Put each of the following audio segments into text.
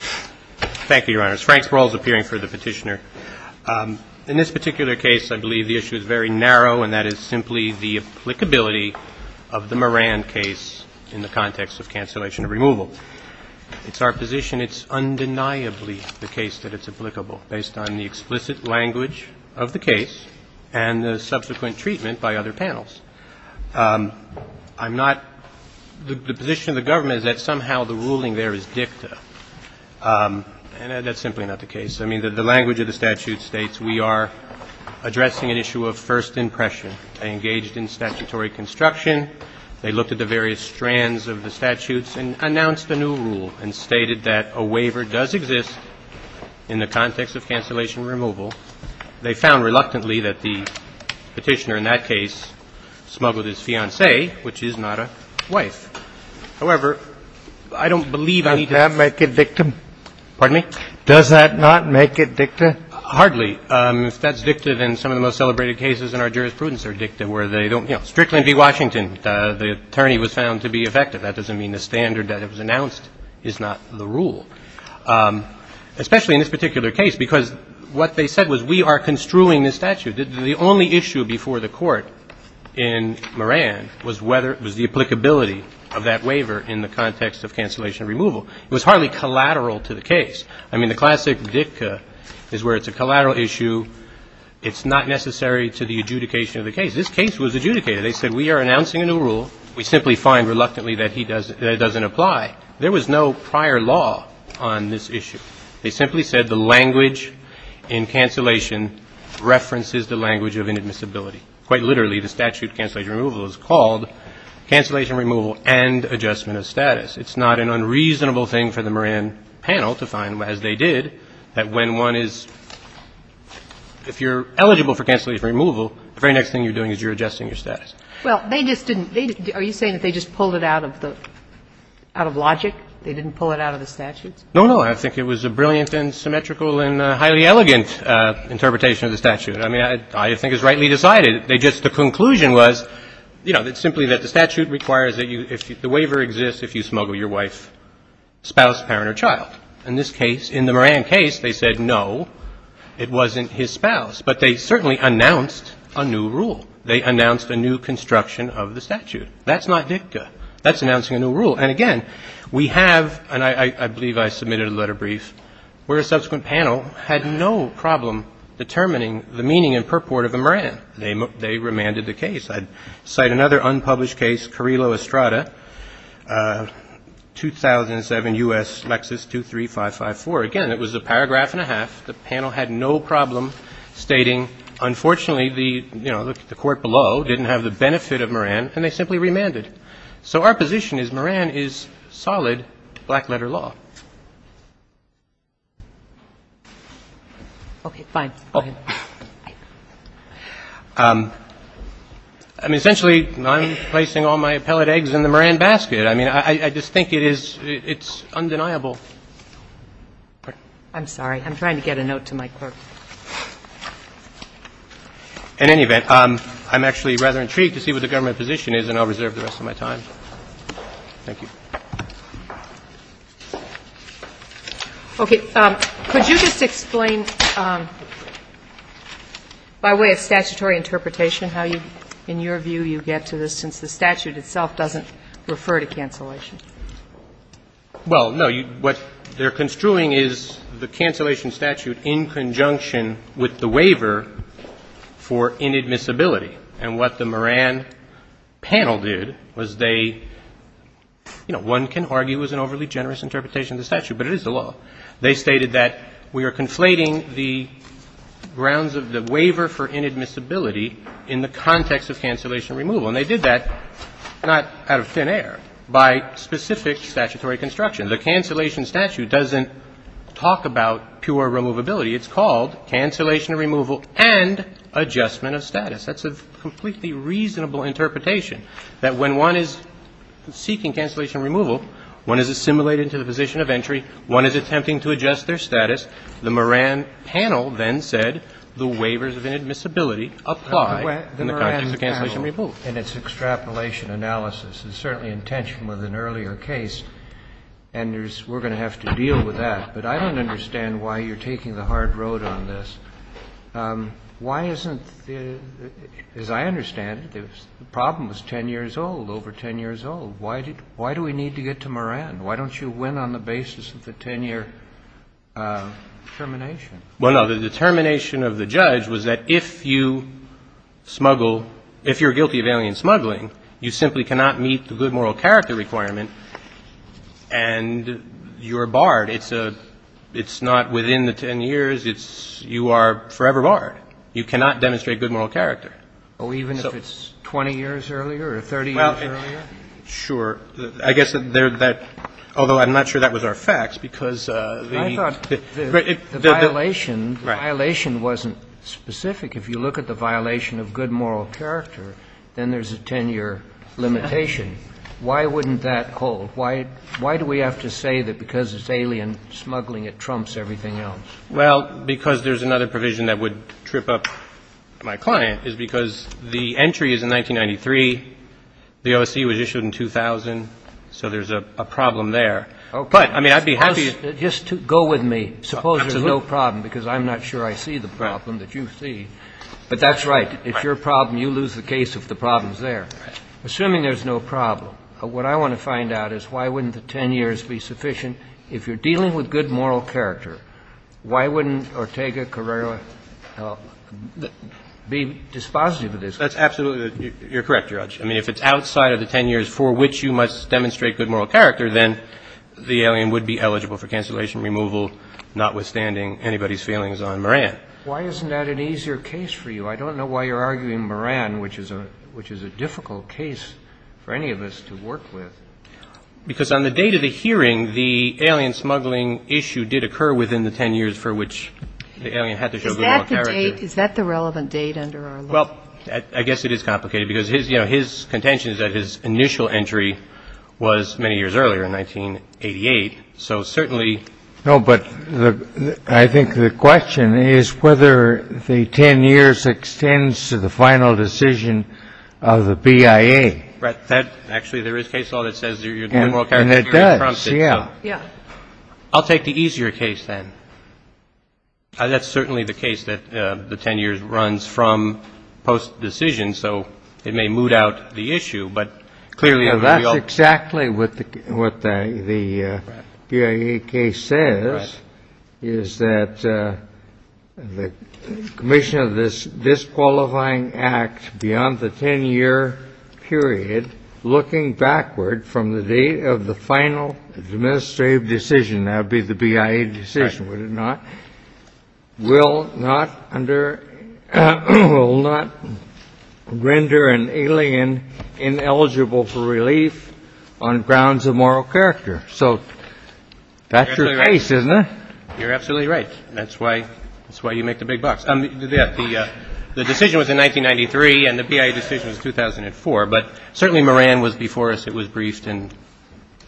Thank you, Your Honors. Frank Sproul is appearing for the petitioner. In this particular case, I believe the issue is very narrow, and that is simply the applicability of the Moran case in the context of cancellation of removal. It's our position it's undeniably the case that it's applicable, based on the explicit language of the case and the subsequent treatment by other panels. I'm not – the position of the government is that somehow the ruling there is dicta, and that's simply not the case. I mean, the language of the statute states we are addressing an issue of first impression. They engaged in statutory construction. They looked at the various strands of the statutes and announced a new rule and stated that a waiver does exist in the context of cancellation of removal. They found reluctantly that the petitioner in that case smuggled his fiancée, which is not a wife. However, I don't believe I need to – Can that make it dicta? Pardon me? Does that not make it dicta? Hardly. If that's dicta, then some of the most celebrated cases in our jurisprudence are dicta, where they don't – you know, Strickland v. Washington, the attorney was found to be effective. That doesn't mean the standard that was announced is not the rule, especially in this particular case, because what they said was we are construing this statute. The only issue before the Court in Moran was whether – was the applicability of that waiver in the context of cancellation of removal. It was hardly collateral to the case. I mean, the classic dicta is where it's a collateral issue. It's not necessary to the adjudication of the case. This case was adjudicated. They said we are announcing a new rule. We simply find reluctantly that it doesn't apply. There was no prior law on this issue. They simply said the language in cancellation references the language of inadmissibility. Quite literally, the statute of cancellation removal is called cancellation removal and adjustment of status. It's not an unreasonable thing for the Moran panel to find, as they did, that when one is – if you're eligible for cancellation removal, the very next thing you're doing is you're adjusting your status. Well, they just didn't – are you saying that they just pulled it out of the – out of logic? They didn't pull it out of the statutes? No, no. I think it was a brilliant and symmetrical and highly elegant interpretation of the statute. I mean, I think it was rightly decided. They just – the conclusion was, you know, that simply that the statute requires that you – the waiver exists if you smuggle your wife, spouse, parent, or child. In this case, in the Moran case, they said no, it wasn't his spouse, but they certainly announced a new rule. They announced a new construction of the statute. That's not dicta. That's announcing a new rule. And, again, we have – and I believe I submitted a letter brief – where a subsequent panel had no problem determining the meaning and purport of the Moran. They remanded the case. I'd cite another unpublished case, Carrillo-Estrada, 2007 U.S. Lexis 23554. Again, it was a paragraph and a half. The panel had no problem stating, unfortunately, the – you know, the court below didn't have the benefit of Moran, and they simply remanded. So our position is Moran is solid black-letter law. Okay, fine. Go ahead. I mean, essentially, I'm placing all my appellate eggs in the Moran basket. I mean, I just think it is – it's undeniable. I'm sorry. I'm trying to get a note to my clerk. In any event, I'm actually rather intrigued to see what the government position is, and I'll reserve the rest of my time. Thank you. Okay. Could you just explain by way of statutory interpretation how you – in your view, you get to this, since the statute itself doesn't refer to cancellation? Well, no. What they're construing is the cancellation statute in conjunction with the waiver for inadmissibility. And what the Moran panel did was they – you know, one can argue it was an overly generous interpretation of the statute, but it is the law. They stated that we are conflating the grounds of the waiver for inadmissibility in the context of cancellation removal. And they did that not out of thin air, by specific statutory construction. The cancellation statute doesn't talk about pure removability. It's called cancellation removal and adjustment of status. That's a completely reasonable interpretation, that when one is seeking cancellation removal, one is assimilated into the position of entry, one is attempting to adjust their status. The Moran panel then said the waivers of inadmissibility apply in the context of cancellation removal. And it's extrapolation analysis. It's certainly in tension with an earlier case. And there's – we're going to have to deal with that. But I don't understand why you're taking the hard road on this. Why isn't the – as I understand it, the problem was 10 years old, over 10 years old. Why do we need to get to Moran? Why don't you win on the basis of the 10-year termination? Well, no. The determination of the judge was that if you smuggle – if you're guilty of alien smuggling, you simply cannot meet the good moral character requirement and you're barred. It's a – it's not within the 10 years. It's – you are forever barred. You cannot demonstrate good moral character. Oh, even if it's 20 years earlier or 30 years earlier? Well, sure. I guess that – although I'm not sure that was our facts, because the – The violation – the violation wasn't specific. If you look at the violation of good moral character, then there's a 10-year limitation. Why wouldn't that hold? Why do we have to say that because it's alien smuggling, it trumps everything else? Well, because there's another provision that would trip up my client, is because the entry is in 1993. The OSC was issued in 2000. So there's a problem there. Okay. But, I mean, I'd be happy – Just go with me. Suppose there's no problem, because I'm not sure I see the problem that you see. But that's right. If you're a problem, you lose the case if the problem's there. Assuming there's no problem, what I want to find out is why wouldn't the 10 years be sufficient? If you're dealing with good moral character, why wouldn't Ortega Carrera be dispositive of this? That's absolutely – you're correct, Your Honor. I mean, if it's outside of the 10 years for which you must demonstrate good moral character, then the alien would be eligible for cancellation, removal, notwithstanding anybody's feelings on Moran. Why isn't that an easier case for you? I don't know why you're arguing Moran, which is a difficult case for any of us to work with. Because on the date of the hearing, the alien smuggling issue did occur within the 10 years for which the alien had to show good moral character. Is that the relevant date under our law? Well, I guess it is complicated because his contention is that his initial entry was many years earlier, in 1988. So certainly – No, but I think the question is whether the 10 years extends to the final decision of the BIA. Right. Actually, there is a case law that says your good moral character – And it does. Yeah. Yeah. I'll take the easier case then. That's certainly the case that the 10 years runs from post-decision, so it may moot out the issue. But clearly – That's exactly what the BIA case says, is that the commission of this disqualifying act beyond the 10-year period, looking backward from the date of the final administrative decision – that would be the BIA decision, would it not – will not render an alien ineligible for relief on grounds of moral character. So that's your case, isn't it? You're absolutely right. That's why you make the big bucks. The decision was in 1993, and the BIA decision was 2004, but certainly Moran was before us. It was briefed, and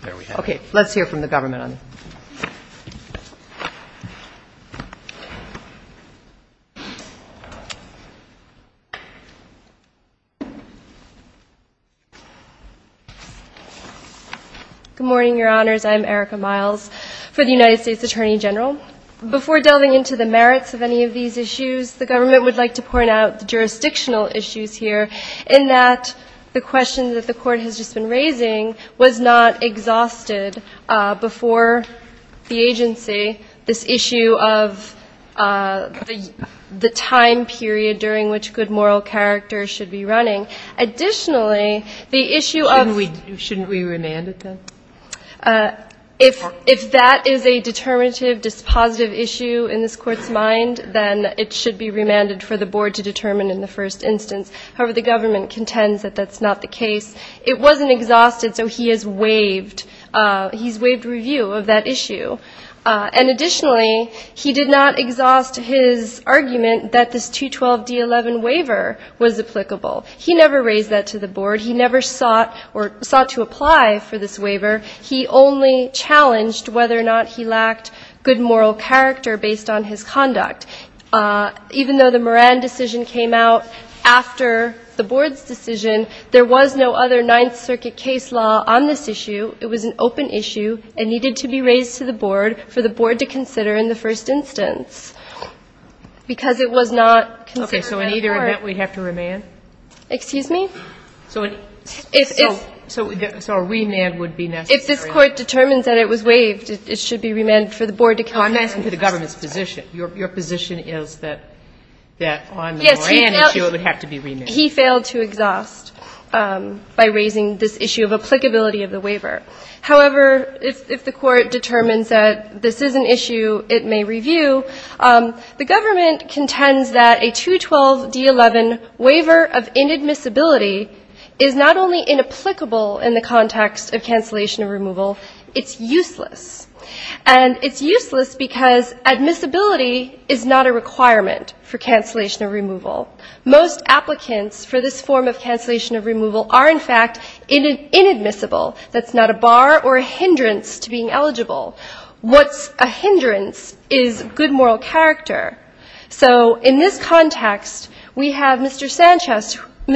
there we have it. Okay. Let's hear from the government on this. Good morning, Your Honors. I'm Erica Miles for the United States Attorney General. Before delving into the merits of any of these issues, the government would like to point out the jurisdictional issues here, in that the question that the Court has just been raising was not exhausted before the agency, this issue of the time period during which good moral character should be running. Additionally, the issue of – Shouldn't we remand it, then? If that is a determinative, dispositive issue in this Court's mind, then it should be remanded for the Board to determine in the first instance. However, the government contends that that's not the case. It wasn't exhausted, so he has waived review of that issue. And additionally, he did not exhaust his argument that this 212D11 waiver was applicable. He never raised that to the Board. He never sought to apply for this waiver. He only challenged whether or not he lacked good moral character based on his conduct. Even though the Moran decision came out after the Board's decision, there was no other Ninth Circuit case law on this issue. It was an open issue and needed to be raised to the Board for the Board to consider in the first instance, because it was not considered by the Court. Okay. So in either event, we'd have to remand? Excuse me? So a remand would be necessary? If this Court determines that it was waived, it should be remanded for the Board to consider. I'm asking for the government's position. Your position is that on the Moran issue, it would have to be remanded. He failed to exhaust by raising this issue of applicability of the waiver. However, if the Court determines that this is an issue it may review, the government contends that a 212D11 waiver of inadmissibility is not only inapplicable in the context of cancellation of removal, it's useless. And it's useless because admissibility is not a requirement for cancellation of removal. Most applicants for this form of cancellation of removal are, in fact, inadmissible. That's not a bar or a hindrance to being eligible. What's a hindrance is good moral character. So in this context, we have Mr. Sanchez, who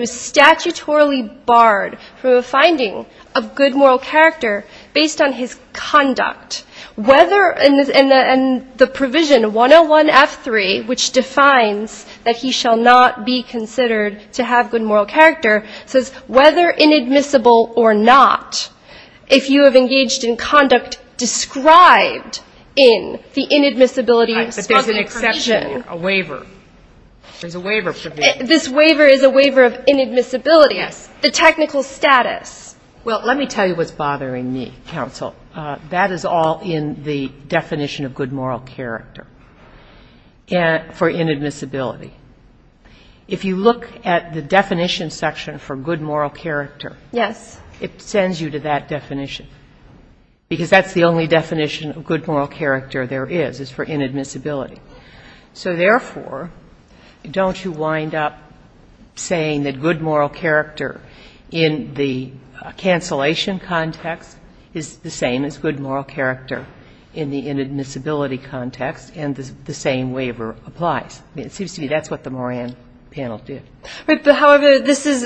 is statutorily barred from a finding of good moral character based on his conduct. And the provision 101F3, which defines that he shall not be considered to have good moral character, says whether inadmissible or not, if you have engaged in conduct described in the inadmissibility of smuggling condition. This waiver is a waiver of inadmissibility, the technical status. Well, let me tell you what's bothering me, counsel. That is all in the definition of good moral character for inadmissibility. And for good moral character, it sends you to that definition. Because that's the only definition of good moral character there is, is for inadmissibility. So therefore, don't you wind up saying that good moral character in the cancellation context is the same as good moral character in the inadmissibility context, and the same waiver applies? I mean, it seems to me that's what the Moran panel did. However, this is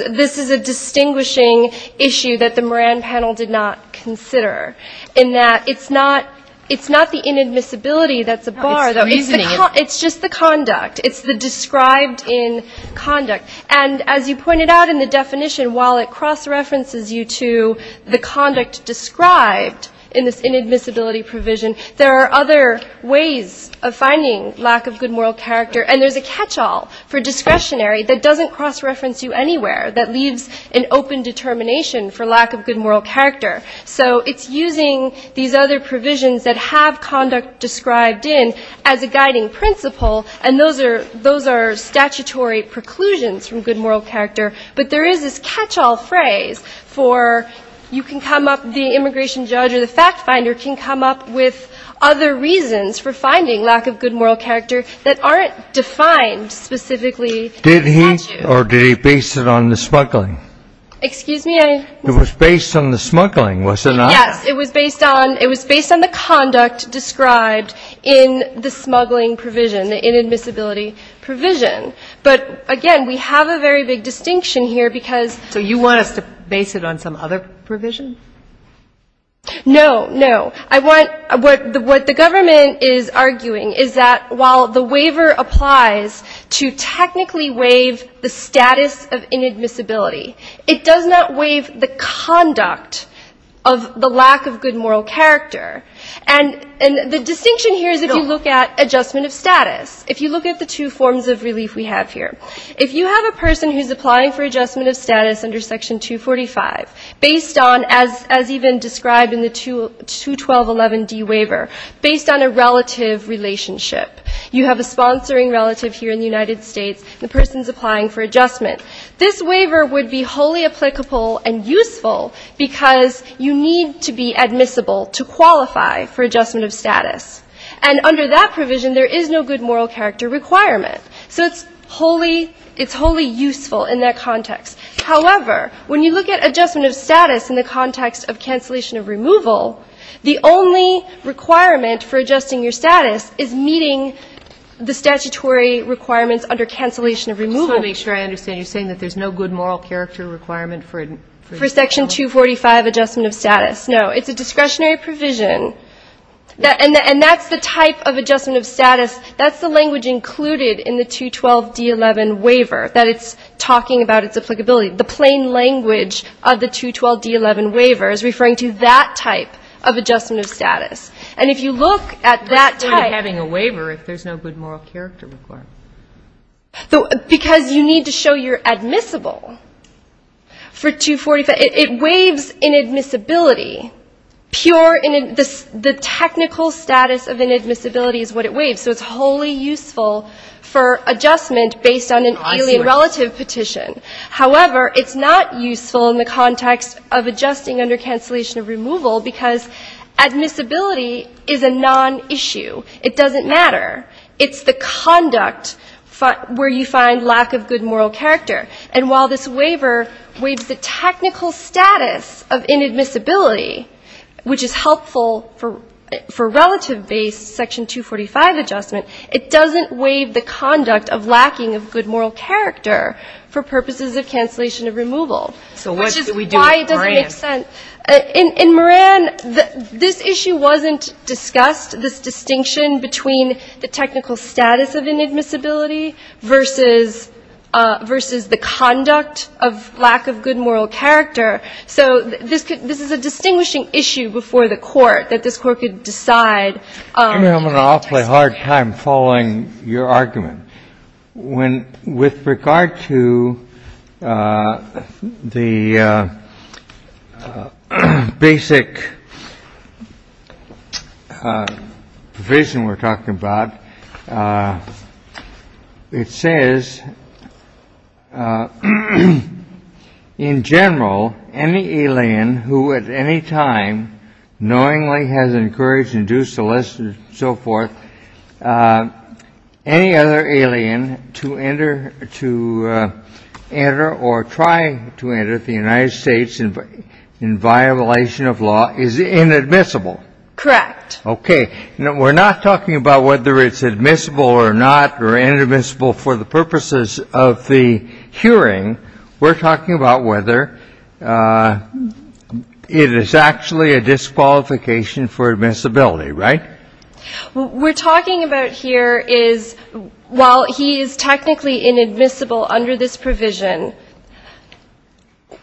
a distinguishing issue that the Moran panel did not consider, in that it's not the inadmissibility that's a bar, though. It's just the conduct. It's the described in conduct. And as you pointed out in the definition, while it cross-references you to the conduct described in this inadmissibility context, it doesn't cross-reference you anywhere that leaves an open determination for lack of good moral character. So it's using these other provisions that have conduct described in as a guiding principle, and those are statutory preclusions from good moral character. But there is this catch-all phrase for you can come up, the immigration judge or the fact finder can come up with other reasons for finding lack of good moral character that aren't defined specifically in the statute. Or did he base it on the smuggling? It was based on the smuggling, was it not? Yes, it was based on the conduct described in the smuggling provision, the inadmissibility provision. But, again, we have a very big distinction here, because you want us to base it on some other provision? No, no. I want, what the government is arguing is that while the waiver applies to technically waive the status of inadmissibility, it does not waive the conduct of the lack of good moral character. And the distinction here is if you look at adjustment of status, if you look at the two forms of relief we have here. If you have a person who's applying for adjustment of status under Section 245, based on, as even described in the 212 provision, 1211D waiver, based on a relative relationship. You have a sponsoring relative here in the United States, the person's applying for adjustment. This waiver would be wholly applicable and useful, because you need to be admissible to qualify for adjustment of status. And under that provision, there is no good moral character requirement. So it's wholly useful in that context. However, when you look at adjustment of status in the context of cancellation of removal, the only requirement for adjusting your status is meeting the statutory requirements under cancellation of removal. I just want to make sure I understand. You're saying that there's no good moral character requirement for it? For Section 245 adjustment of status. No. It's a discretionary provision. And that's the type of adjustment of status. That's the language included in the 212D11 waiver, that it's talking about its applicability. The plain language of the 212D11 waiver is referring to that type of adjustment of status. And if you look at that type of adjustment of status. It's not having a waiver if there's no good moral character requirement. Because you need to show you're admissible for 245. It waives inadmissibility. The technical status of inadmissibility is what it waives. So it's wholly useful for adjustment based on an alien relative petition. However, it's not useful in the context of adjusting under cancellation of removal, because admissibility is a non-issue. It doesn't matter. It's the conduct where you find lack of good moral character. And while this waiver waives the technical status of inadmissibility, which is helpful for relative-based Section 245 adjustment, it doesn't waive the conduct of lacking of good moral character for purposes of cancellation of removal. Which is why it doesn't make sense. And in Moran, this issue wasn't discussed, this distinction between the technical status of inadmissibility versus the conduct of lack of good moral character. So this is a distinguishing issue before the Court, that this Court could decide. Kennedy, I'm having an awfully hard time following your argument. Basic vision we're talking about. It says, in general, any alien who at any time knowingly has encouraged, induced, solicited, so forth. Any other alien to enter to enter or try to enter the United States, in violation of law, is inadmissible. Correct. Okay. We're not talking about whether it's admissible or not or inadmissible for the purposes of the hearing. We're talking about whether it is actually a disqualification for admissibility, right? What we're talking about here is while he is technically inadmissible under this provision,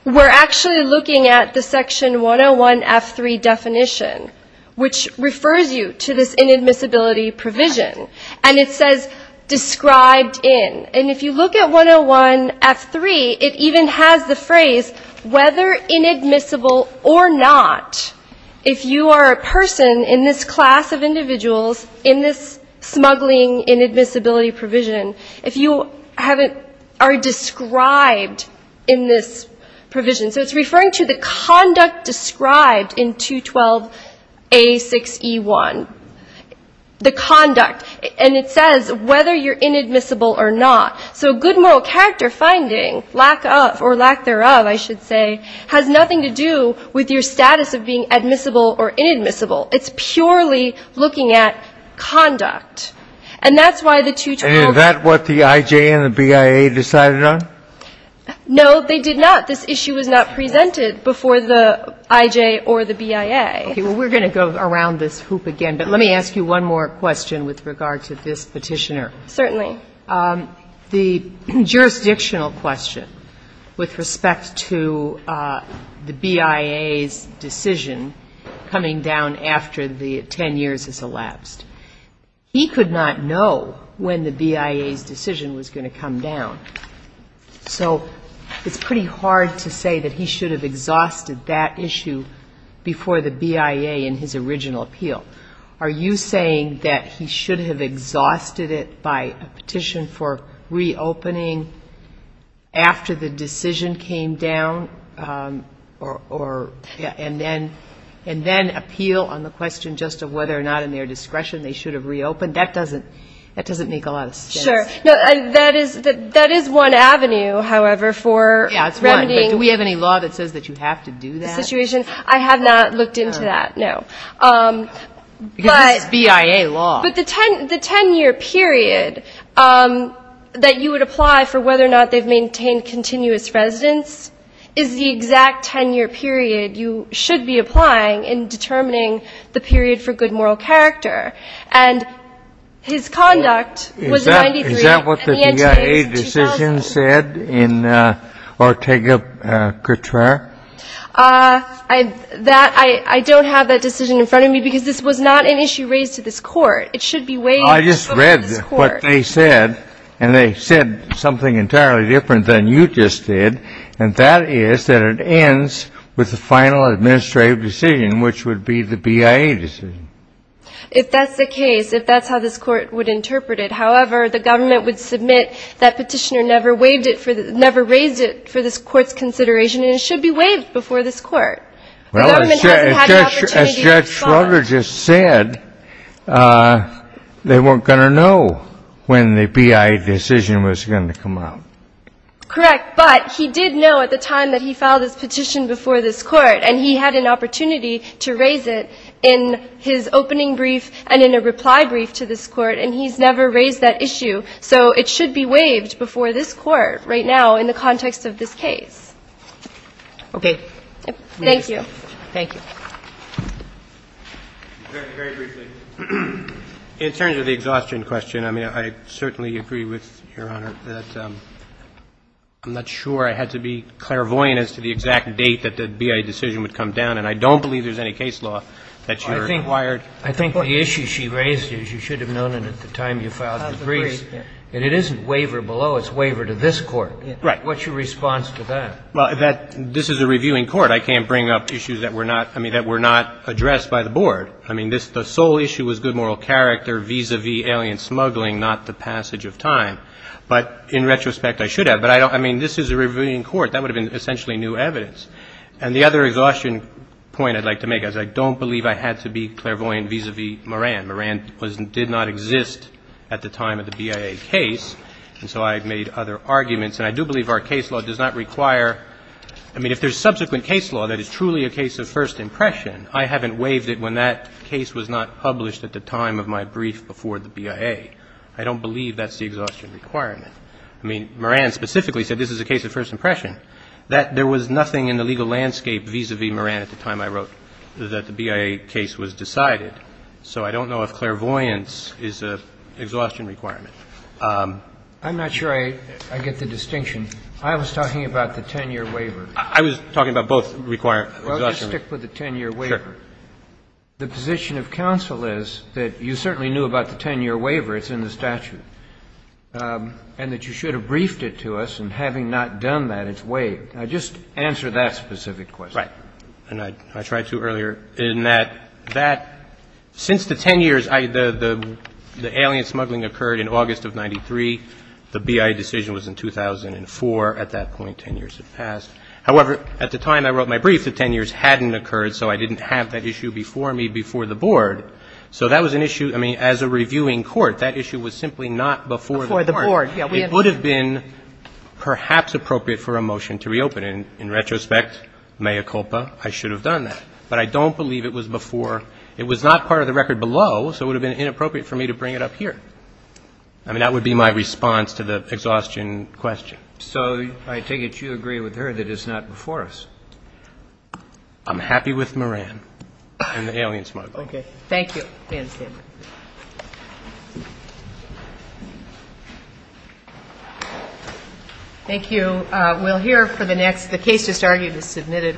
we're actually looking at the Section 101F3 definition, which refers you to this inadmissibility provision. And it says, described in. And if you look at 101F3, it even has the phrase, whether inadmissible or not, if you are a person in this class of individuals, in this smuggling inadmissibility provision, if you haven't, are described in this provision. So it's referring to the conduct described in 212A6E1. The conduct. And it says whether you're inadmissible or not. So good moral character finding, lack of or lack thereof, I should say, has nothing to do with your status of being admissible or inadmissible. It's purely looking at conduct. And that's why the 212. And is that what the IJ and the BIA decided on? No, they did not. This issue was not presented before the IJ or the BIA. Okay. Well, we're going to go around this hoop again, but let me ask you one more question with regard to this Petitioner. Certainly. The jurisdictional question with respect to the BIA's decision coming down after the 10 years has elapsed. He could not know when the BIA's decision was going to come down. So it's pretty hard to say that he should have exhausted that issue before the BIA in his original appeal. Are you saying that he should have exhausted it by a petition for reopening after the decision came down and then appeal on the question just of whether or not in their discretion they should have reopened? That doesn't make a lot of sense. Sure. That is one avenue, however, for remedying. Yeah, it's one. But do we have any law that says that you have to do that? I have not looked into that, no. Because this is BIA law. But the 10-year period that you would apply for whether or not they've maintained continuous residence is the exact 10-year period you should be applying in determining the period for good moral character. And his conduct was 93. Is that what the BIA decision said in Ortega-Couture? I don't have that decision in front of me because this was not an issue raised to this court. It should be weighed over this court. I just read what they said, and they said something entirely different than you just did, and that is that it ends with the final administrative decision, which would be the BIA decision. If that's the case, if that's how this court would interpret it. However, the government would submit that petitioner never raised it for this court's consideration, and it should be waived before this court. The government hasn't had an opportunity to respond. Well, as Judge Schroeder just said, they weren't going to know when the BIA decision was going to come out. Correct. But he did know at the time that he filed his petition before this court, and he had an opportunity to raise it in his opening brief and in a reply brief to this court, and he's never raised that issue. So it should be waived before this court right now in the context of this case. Okay. Thank you. Thank you. Very briefly, in terms of the exhaustion question, I mean, I certainly agree with Your Honor that I'm not sure I had to be clairvoyant as to the exact date that the BIA decision would come down, and I don't believe there's any case law that you're wired for. Well, the issue she raised is you should have known it at the time you filed the brief. And it isn't waiver below, it's waiver to this court. Right. What's your response to that? Well, this is a reviewing court. I can't bring up issues that were not, I mean, that were not addressed by the board. I mean, the sole issue was good moral character, vis-à-vis alien smuggling, not the passage of time. But in retrospect, I should have. But I mean, this is a reviewing court. That would have been essentially new evidence. And the other exhaustion point I'd like to make is I don't believe I had to be clairvoyant vis-à-vis Moran. Moran did not exist at the time of the BIA case. And so I've made other arguments. And I do believe our case law does not require, I mean, if there's subsequent case law that is truly a case of first impression, I haven't waived it when that case was not published at the time of my brief before the BIA. I don't believe that's the exhaustion requirement. I mean, Moran specifically said this is a case of first impression. There was nothing in the legal landscape vis-à-vis Moran at the time I wrote that the BIA case was decided. So I don't know if clairvoyance is an exhaustion requirement. I'm not sure I get the distinction. I was talking about the 10-year waiver. I was talking about both exhaustion requirements. Well, just stick with the 10-year waiver. Sure. The position of counsel is that you certainly knew about the 10-year waiver. It's in the statute. And that you should have briefed it to us. And having not done that, it's waived. Now, just answer that specific question. Right. And I tried to earlier, in that that, since the 10 years, the alien smuggling occurred in August of 93. The BIA decision was in 2004. At that point, 10 years had passed. However, at the time I wrote my brief, the 10 years hadn't occurred, so I didn't have that issue before me before the board. So that was an issue, I mean, as a reviewing court, that issue was simply not before the board. Before the board, yes. It would have been perhaps appropriate for a motion to reopen. But in retrospect, mea culpa, I should have done that. But I don't believe it was before. It was not part of the record below, so it would have been inappropriate for me to bring it up here. I mean, that would be my response to the exhaustion question. So I take it you agree with her that it's not before us. I'm happy with Moran and the alien smuggling. Okay. Thank you. Ma'am, stand by. Thank you. Thank you. We'll hear for the next. The case just argued is submitted.